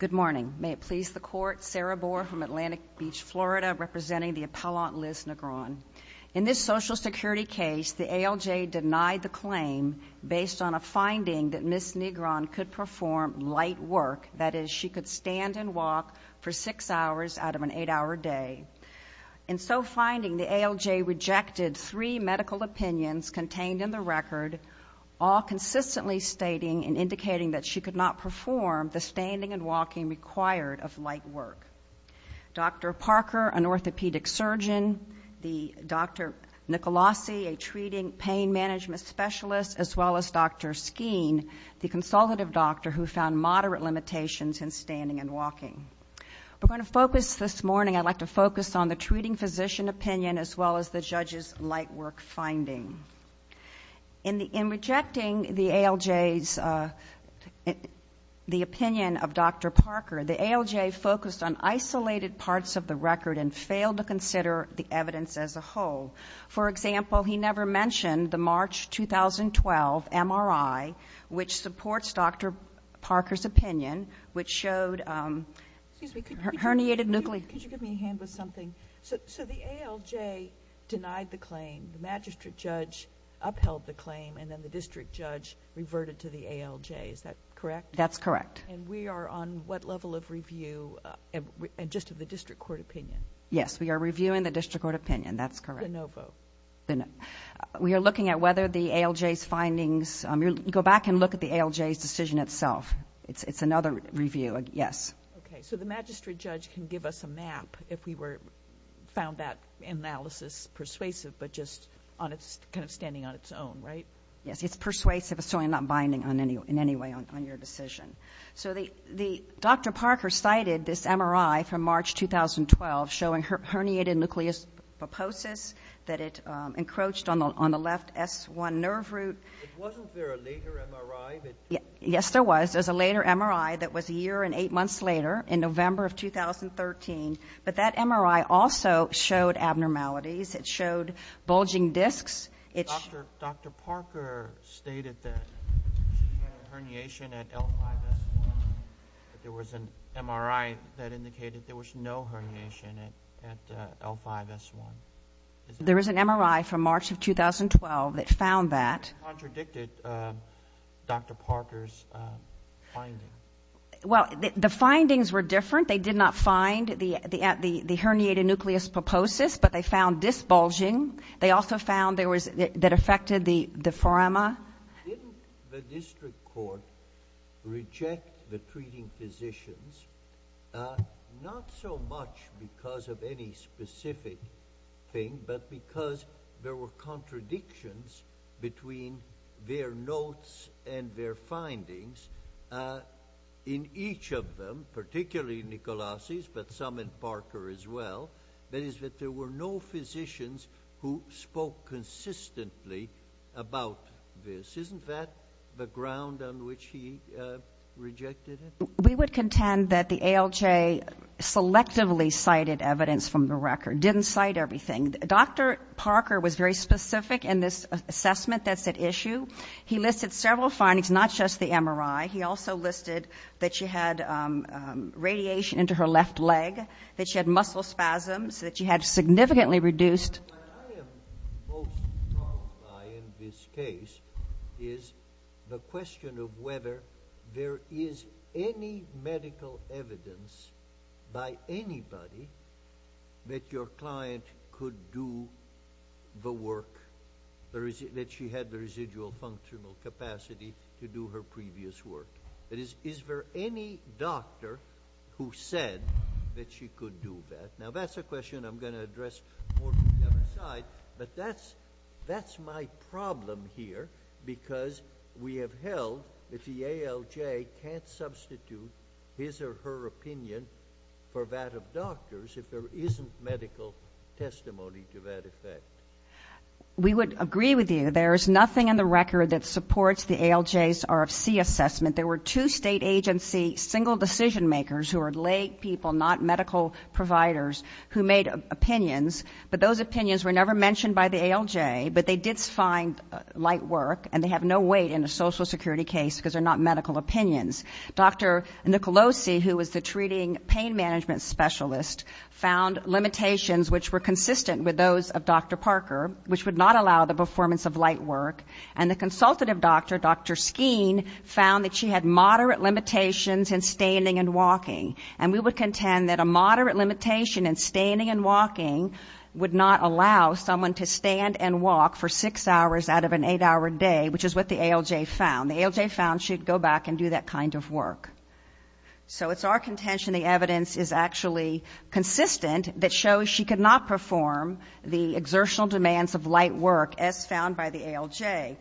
Good morning. May it please the Court, Sarah Bohr from Atlantic Beach, Florida, representing the appellant Liz Negron. In this Social Security case, the ALJ denied the claim based on a finding that Ms. Negron could perform light work, that is, she could stand and walk for six hours out of an eight-hour day. In so finding, the ALJ rejected three medical opinions contained in the record, all consistently stating and indicating that she could not perform the standing and walking required of light work. Dr. Parker, an orthopedic surgeon, the Dr. Nicolosi, a treating pain management specialist, as well as Dr. Skeen, the consultative doctor who found moderate limitations in standing and walking. We're going to focus this morning I'd like to focus on the treating physician opinion as well as the judge's light work finding. In rejecting the ALJ's, the opinion of Dr. Parker, the ALJ focused on isolated parts of the record and failed to consider the evidence as a whole. For example, he never mentioned the March 2012 MRI, which supports Dr. Parker's opinion, which showed herniated nuclei. Could you give me a hand with something? The ALJ denied the claim, the magistrate judge upheld the claim, and then the district judge reverted to the ALJ, is that correct? That's correct. And we are on what level of review, just of the district court opinion? Yes, we are reviewing the district court opinion, that's correct. The no vote? We are looking at whether the ALJ's findings... go back and look at the ALJ's decision itself. It's another review, yes. Okay, so the magistrate judge can give us a map if we found that analysis persuasive, but just kind of standing on its own, right? Yes, it's persuasive, it's not binding in any way on your decision. So Dr. Parker cited this MRI from March 2012 showing herniated nucleus puposis, that it encroached on the left S1 nerve root. Wasn't there a later MRI? Yes, there was. There was a later MRI that was a year and eight months later, in November of 2013, but that MRI also showed abnormalities. It showed bulging discs. Dr. Parker stated that she had a herniation at L5-S1, but there was an MRI that indicated there was no herniation at L5-S1. There is an MRI from March of 2012 that found that. What contradicted Dr. Parker's finding? Well, the findings were different. They did not find the herniated nucleus puposus, but they found this bulging. They also found that it affected the forama. Didn't the district court reject the treating physicians, not so much because of any specific thing, but because there were contradictions between their notes and their findings in each of them, particularly Nicolasi's, but some in Parker as well. That is, that there were no physicians who spoke consistently about this. Isn't that the ground on which he rejected it? We would contend that the ALJ selectively cited evidence from the record, didn't cite everything. Dr. Parker was very specific in this assessment that's at issue. He listed several findings, not just the MRI. He also listed that she had radiation into her left leg, that she had muscle spasms, that she had significantly reduced What I am most troubled by in this case is the question of whether there is any medical evidence by anybody that your client could do the work, that she had the residual functional capacity to do her previous work. That is, is there any doctor who said that she could do that? Now that's a question I'm going to address more from the other side, but that's my problem here, because we have held that the ALJ can't substitute his or her opinion for that of doctors if there isn't medical testimony to that effect. We would agree with you. There is nothing in the record that supports the ALJ's RFC assessment. There were two state agency single decision makers who are lay people, not medical providers, who made opinions, but those opinions were never mentioned by the ALJ, but they did find light work, and they have no weight in a social security case because they're not medical opinions. Dr. Nicolosi, who was the treating pain management specialist, found limitations which were consistent with those of Dr. Parker, which would not allow the performance of light work. And the consultative doctor, Dr. Skeen, found that she had moderate limitations in standing and walking, and we would contend that a moderate limitation in standing and walking would not allow someone to stand and walk for six hours out of an eight-hour day, which is what the ALJ found. The ALJ found she'd go back and do that kind of work. So it's our contention the evidence is actually consistent that shows she could not perform the exertional demands of light work as found by the ALJ.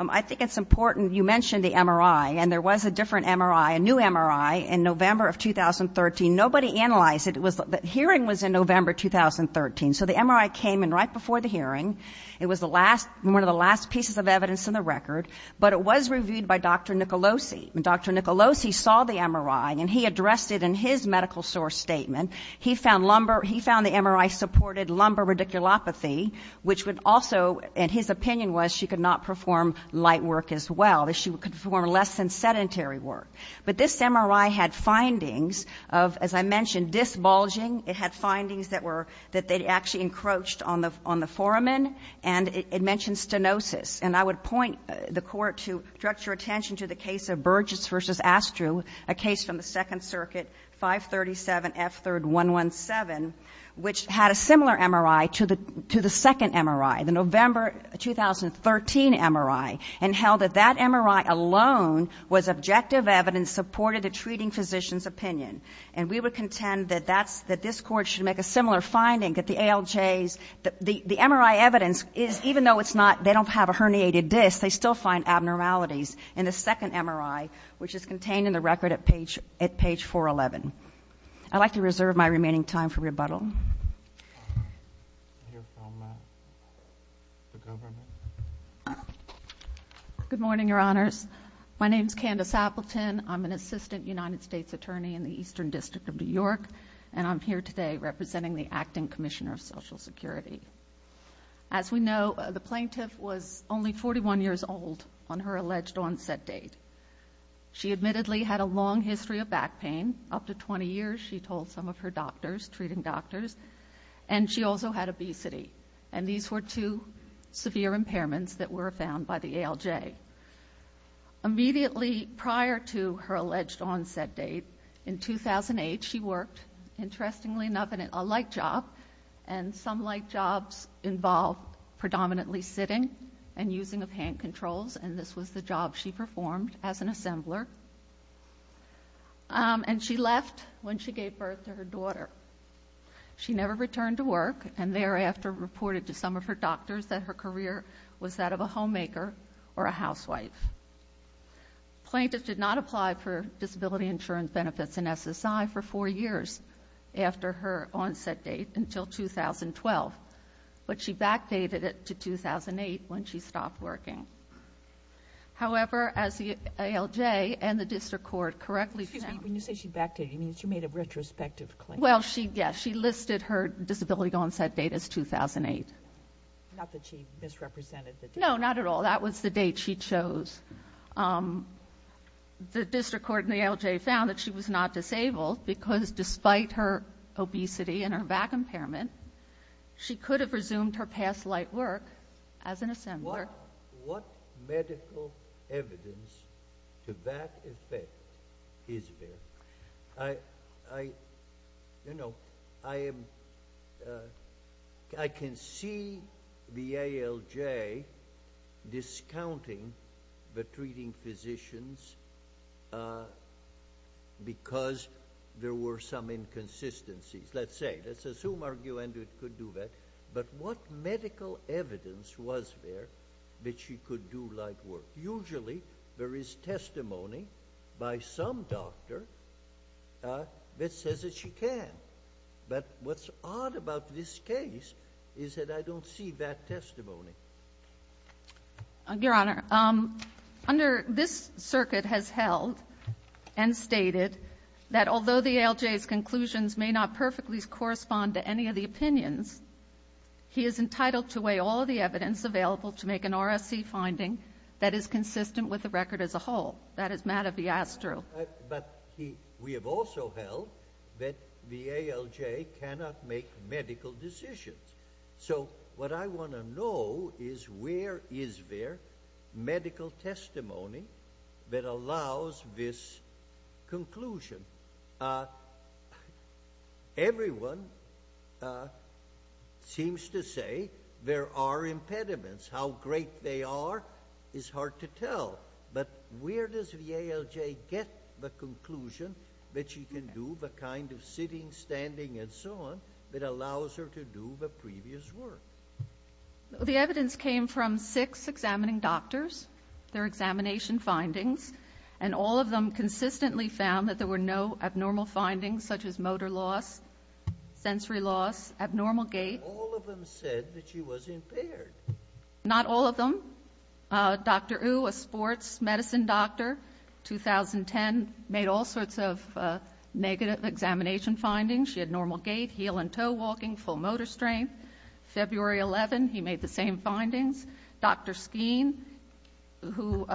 I think it's important, you mentioned the MRI, and there was a different MRI, a new MRI, in November of 2013. Nobody analyzed it. The hearing was in November 2013, so the MRI came in right before the hearing. It was one of the last pieces of evidence in the record, but it was reviewed by Dr. Nicolosi. And Dr. Nicolosi saw the MRI, and he addressed it in his medical source statement. He found the MRI supported lumbar radiculopathy, which would also, in his opinion, was she could not perform light work as well, that she could perform less than sedentary work. But this MRI had findings of, as I mentioned, disbulging. It had findings that were, that they'd actually encroached on the foramen, and it mentioned stenosis. And I would point the Court to direct your attention to the case of Burgess v. Astru, a case from the Second Circuit, 537F3-117, which had a similar MRI to the second MRI, the November 2013 MRI, and held that that MRI alone was objective evidence supported to treating physician's opinion. And we would contend that that's, that this Court should make a similar finding, that the ALJs, the MRI evidence is, even though it's not, they don't have a herniated disc, they still find abnormalities in the second MRI, which is contained in the record at page 411. I'd like to reserve my remaining time for rebuttal. Good morning, Your Honors. My name's Candace Appleton. I'm an assistant United States attorney in the Eastern District of New York, and I'm here today representing the Acting Commissioner of Social Security. As we know, the plaintiff was only 41 years old on her alleged onset date. She admittedly had a long history of back pain, up to 20 years, she told some of her doctors, treating doctors, and she also had obesity. And these were two severe impairments that were found by the ALJ. Immediately prior to her alleged onset date, in 2008, she worked, interestingly enough, in a light job, and some light jobs involved predominantly sitting and using of hand controls, and this was the job she performed as an assembler. And she left when she gave birth to her daughter. She never returned to work, and thereafter reported to some of her doctors that her career was that of a homemaker or a housewife. The plaintiff did not apply for disability insurance benefits in SSI for 4 years after her onset date until 2012, but she backdated it to 2008 when she stopped working. However, as the ALJ and the District Court correctly found... Excuse me, when you say she backdated, you mean she made a retrospective claim? Well, yes, she listed her disability onset date as 2008. Not that she misrepresented the date? She did not have a back impairment. She could have resumed her past light work as an assembler. What medical evidence to that effect is there? I can see the ALJ discounting the treating physicians because there were some inconsistencies. Let's say. Let's assume Arguendo could do that, but what medical evidence was there that she could do light work? Usually there is testimony by some doctor that says that she can. But what's odd about this case is that I don't see that testimony. Your Honor, under this circuit has held and stated that although the ALJ's conclusions may not perfectly correspond to any of the opinions, he is entitled to weigh all of the evidence available to make an RSC finding that is consistent with the record as a whole. That is mad a fiasco. But we have also held that the ALJ cannot make medical decisions. So what I want to know is where is there medical testimony that allows this conclusion? Everyone seems to say there are impediments. How great they are is hard to tell. But where does the ALJ get the conclusion that she can do the kind of sitting, standing, and so on that allows her to do the previous work? The evidence came from six examining doctors, their examination findings, and all of them consistently found that there were no abnormal findings such as motor loss, sensory loss, abnormal gait. All of them said that she was impaired. Not all of them. Dr. Ou, a sports medicine doctor, 2010, made all sorts of negative examination findings. She had normal gait, heel and toe walking, full motor strength. February 11, he made the same findings. Dr. Skeen, who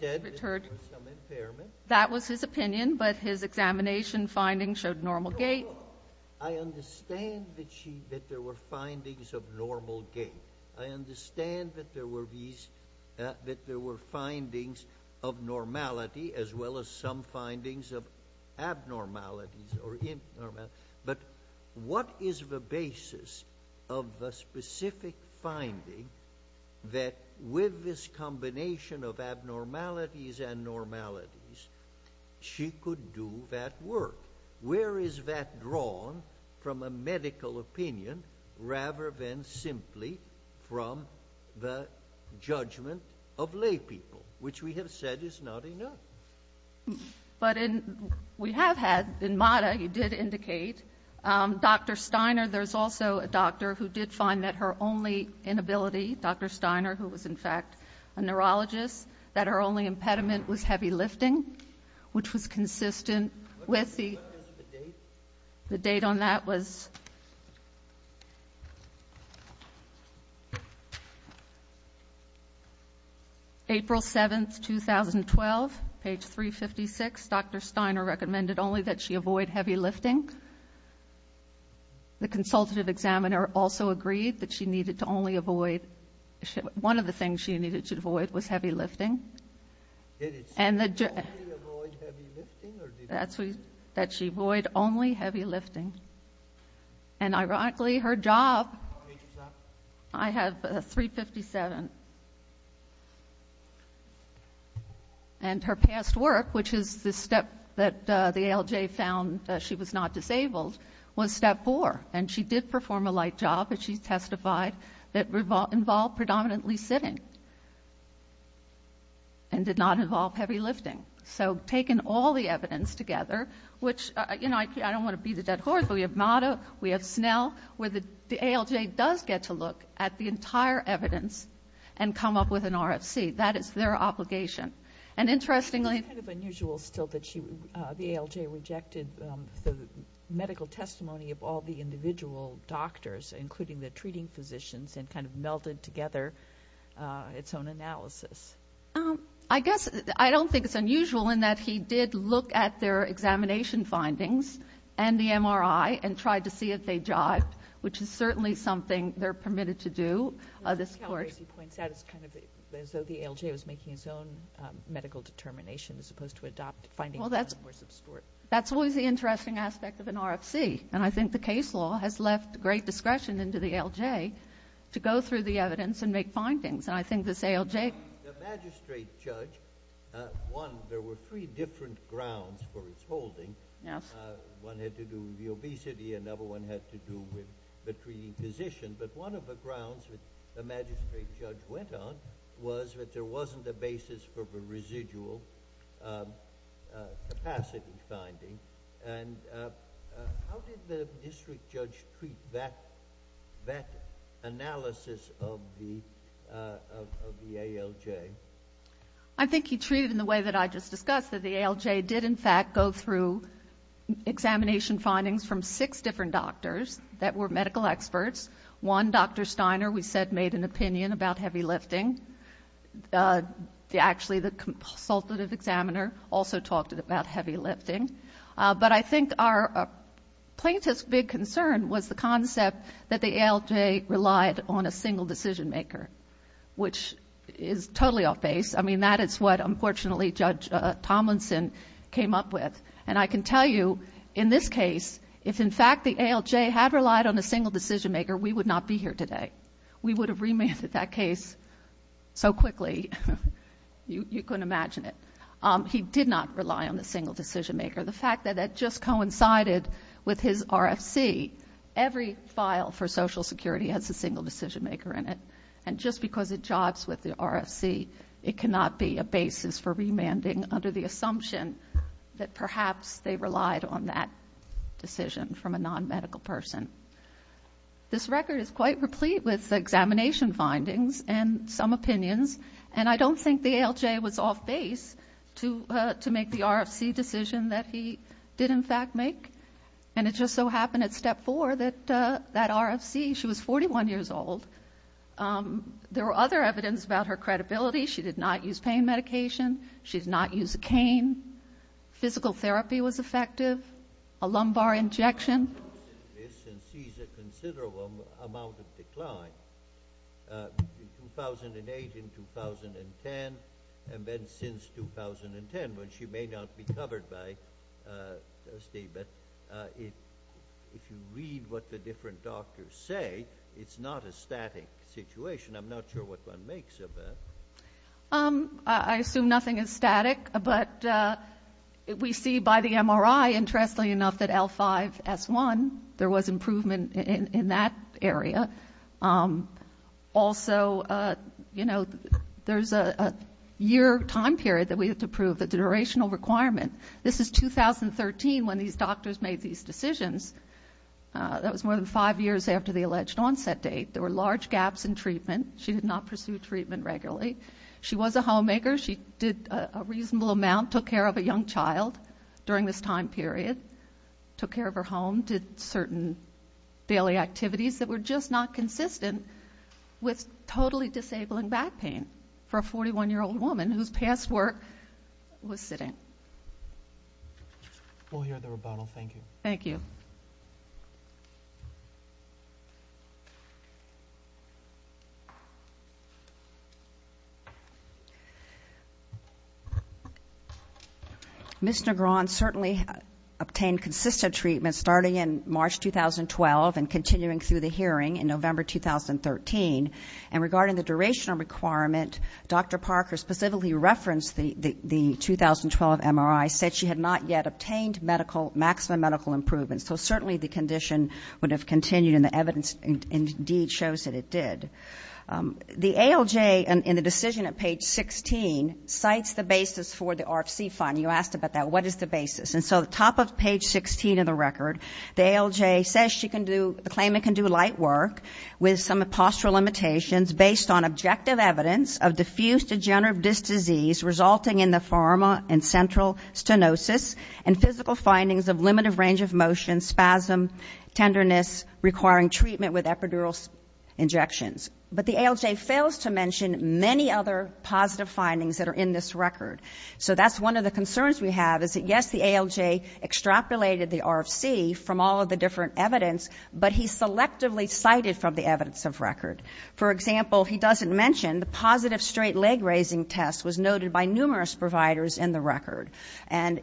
said that there were some impairments, that was his opinion, but his examination findings showed normal gait. I understand that there were findings of normal gait. I understand that there were findings of normality as well as some findings of abnormalities. But what is the basis of the specific finding that with this combination of abnormalities and normalities, she could do that work? Where is that drawn from a medical opinion rather than simply from the judgment of lay people, which we have said is not enough? But we have had, in MATA, he did indicate, Dr. Steiner, there's also a doctor who did find that her only inability, Dr. Steiner, who was in fact a neurologist, that her only impediment was heavy lifting, which was consistent with the... On page 356, Dr. Steiner recommended only that she avoid heavy lifting. The consultative examiner also agreed that she needed to only avoid... One of the things she needed to avoid was heavy lifting. That she avoid only heavy lifting. And ironically, her job, I have 357, and her past work, which is the step that the ALJ found she was not disabled, was step four. And she did perform a light job, as she testified, that involved predominantly sitting and did not involve heavy lifting. So taking all the evidence together, which, you know, I don't want to be the dead horse, but we have MATA, we have Snell, where the ALJ does get to look at the entire evidence and come up with an RFC. That is their obligation. And interestingly... It's kind of unusual still that the ALJ rejected the medical testimony of all the individual doctors, including the treating physicians, and kind of melded together its own analysis. I guess, I don't think it's unusual in that he did look at their examination findings and the MRI and tried to see if they jived, which is certainly something they're permitted to do. As Calabresi points out, it's kind of as though the ALJ was making its own medical determination as opposed to adopting findings that were more substantive. That's always the interesting aspect of an RFC, and I think the case law has left great discretion into the ALJ to go through the evidence and make findings, and I think this ALJ... The magistrate judge, one, there were three different grounds for his holding. One had to do with the obesity, another one had to do with the treating physician, but one of the grounds that the magistrate judge went on was that there wasn't a basis for the residual capacity finding. And how did the district judge treat that analysis of the ALJ? I think he treated it in the way that I just discussed, that the ALJ did, in fact, go through examination findings from six different doctors that were medical experts. One, Dr. Steiner, we said made an opinion about heavy lifting. Actually, the consultative examiner also talked about heavy lifting. But I think our plaintiff's big concern was the concept that the ALJ relied on a single decision maker, which is totally off base. I mean, that is what, unfortunately, Judge Tomlinson came up with, and I can tell you, in this case, if, in fact, the ALJ had relied on a single decision maker, so quickly, you couldn't imagine it, he did not rely on the single decision maker. The fact that that just coincided with his RFC, every file for Social Security has a single decision maker in it, and just because it jibes with the RFC, it cannot be a basis for remanding under the assumption that perhaps they relied on that decision from a non-medical person. This record is quite replete with examination findings and some opinions, and I don't think the ALJ was off base to make the RFC decision that he did, in fact, make. And it just so happened at step four that that RFC, she was 41 years old, there were other evidence about her credibility, she did not use pain medication, she did not use a cane, physical therapy was effective, a lumbar injection. She sees a considerable amount of decline. In 2008 and 2010, and then since 2010, when she may not be covered by a statement, if you read what the different doctors say, it's not a static situation. I'm not sure what one makes of that. I assume nothing is static, but we see by the MRI, interestingly enough, that L5 S1, there was improvement in that area. Also, you know, there's a year time period that we have to prove the durational requirement. This is 2013 when these doctors made these decisions. That was more than five years after the alleged onset date. There were large gaps in treatment. She did not pursue treatment regularly. She was a homemaker, she did a reasonable amount, took care of a young child during this time period, took care of her home, did certain daily activities that were just not consistent with totally disabling back pain for a 41-year-old woman whose past work was sitting. We'll hear the rebuttal. Thank you. Ms. Negron certainly obtained consistent treatment starting in March 2012 and continuing through the hearing in November 2013. And regarding the durational requirement, Dr. Parker specifically referenced the 2012 MRI, said she had not yet obtained maximum medical improvement. So certainly the condition would have continued, and the evidence indeed shows that it did. The ALJ in the decision at page 16 cites the basis for the RFC fund. You asked about that. What is the basis? And so at the top of page 16 of the record, the ALJ says she can do the claimant can do light work with some postural limitations based on objective evidence of diffuse degenerative disc disease resulting in the pharma and central stenosis and physical findings of limited range of motion, spasm, tenderness, requiring treatment with epidural injections. But the ALJ fails to mention many other positive findings that are in this record. So that's one of the concerns we have, is that, yes, the ALJ extrapolated the RFC from all of the different evidence, but he selectively cited from the evidence of record. For example, he doesn't mention the positive straight leg raising test was noted by numerous providers in the record and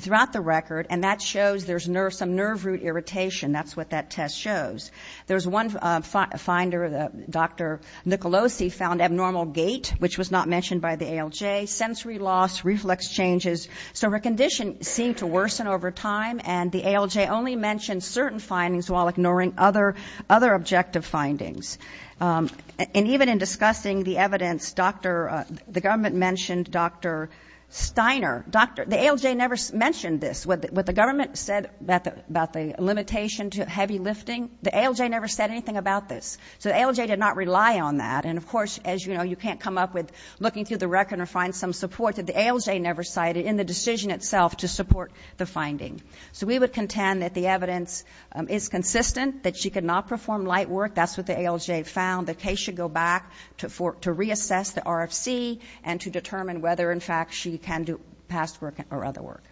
throughout the record, and that shows there's some nerve root irritation. That's what that test shows. There's one finder, Dr. Nicolosi, found abnormal gait, which was not mentioned by the ALJ, sensory loss, reflex changes. So her condition seemed to worsen over time, and the ALJ only mentioned certain findings while ignoring other objective findings. And even in discussing the evidence, the government mentioned Dr. Steiner. The ALJ never mentioned this. What the government said about the limitation to heavy lifting, the ALJ never said anything about this. So the ALJ did not rely on that. And, of course, as you know, you can't come up with looking through the record or find some support that the ALJ never cited in the decision itself to support the finding. So we would contend that the evidence is consistent, that she could not perform light work. That's what the ALJ found. The case should go back to reassess the RFC and to determine whether, in fact, she can do past work or other work.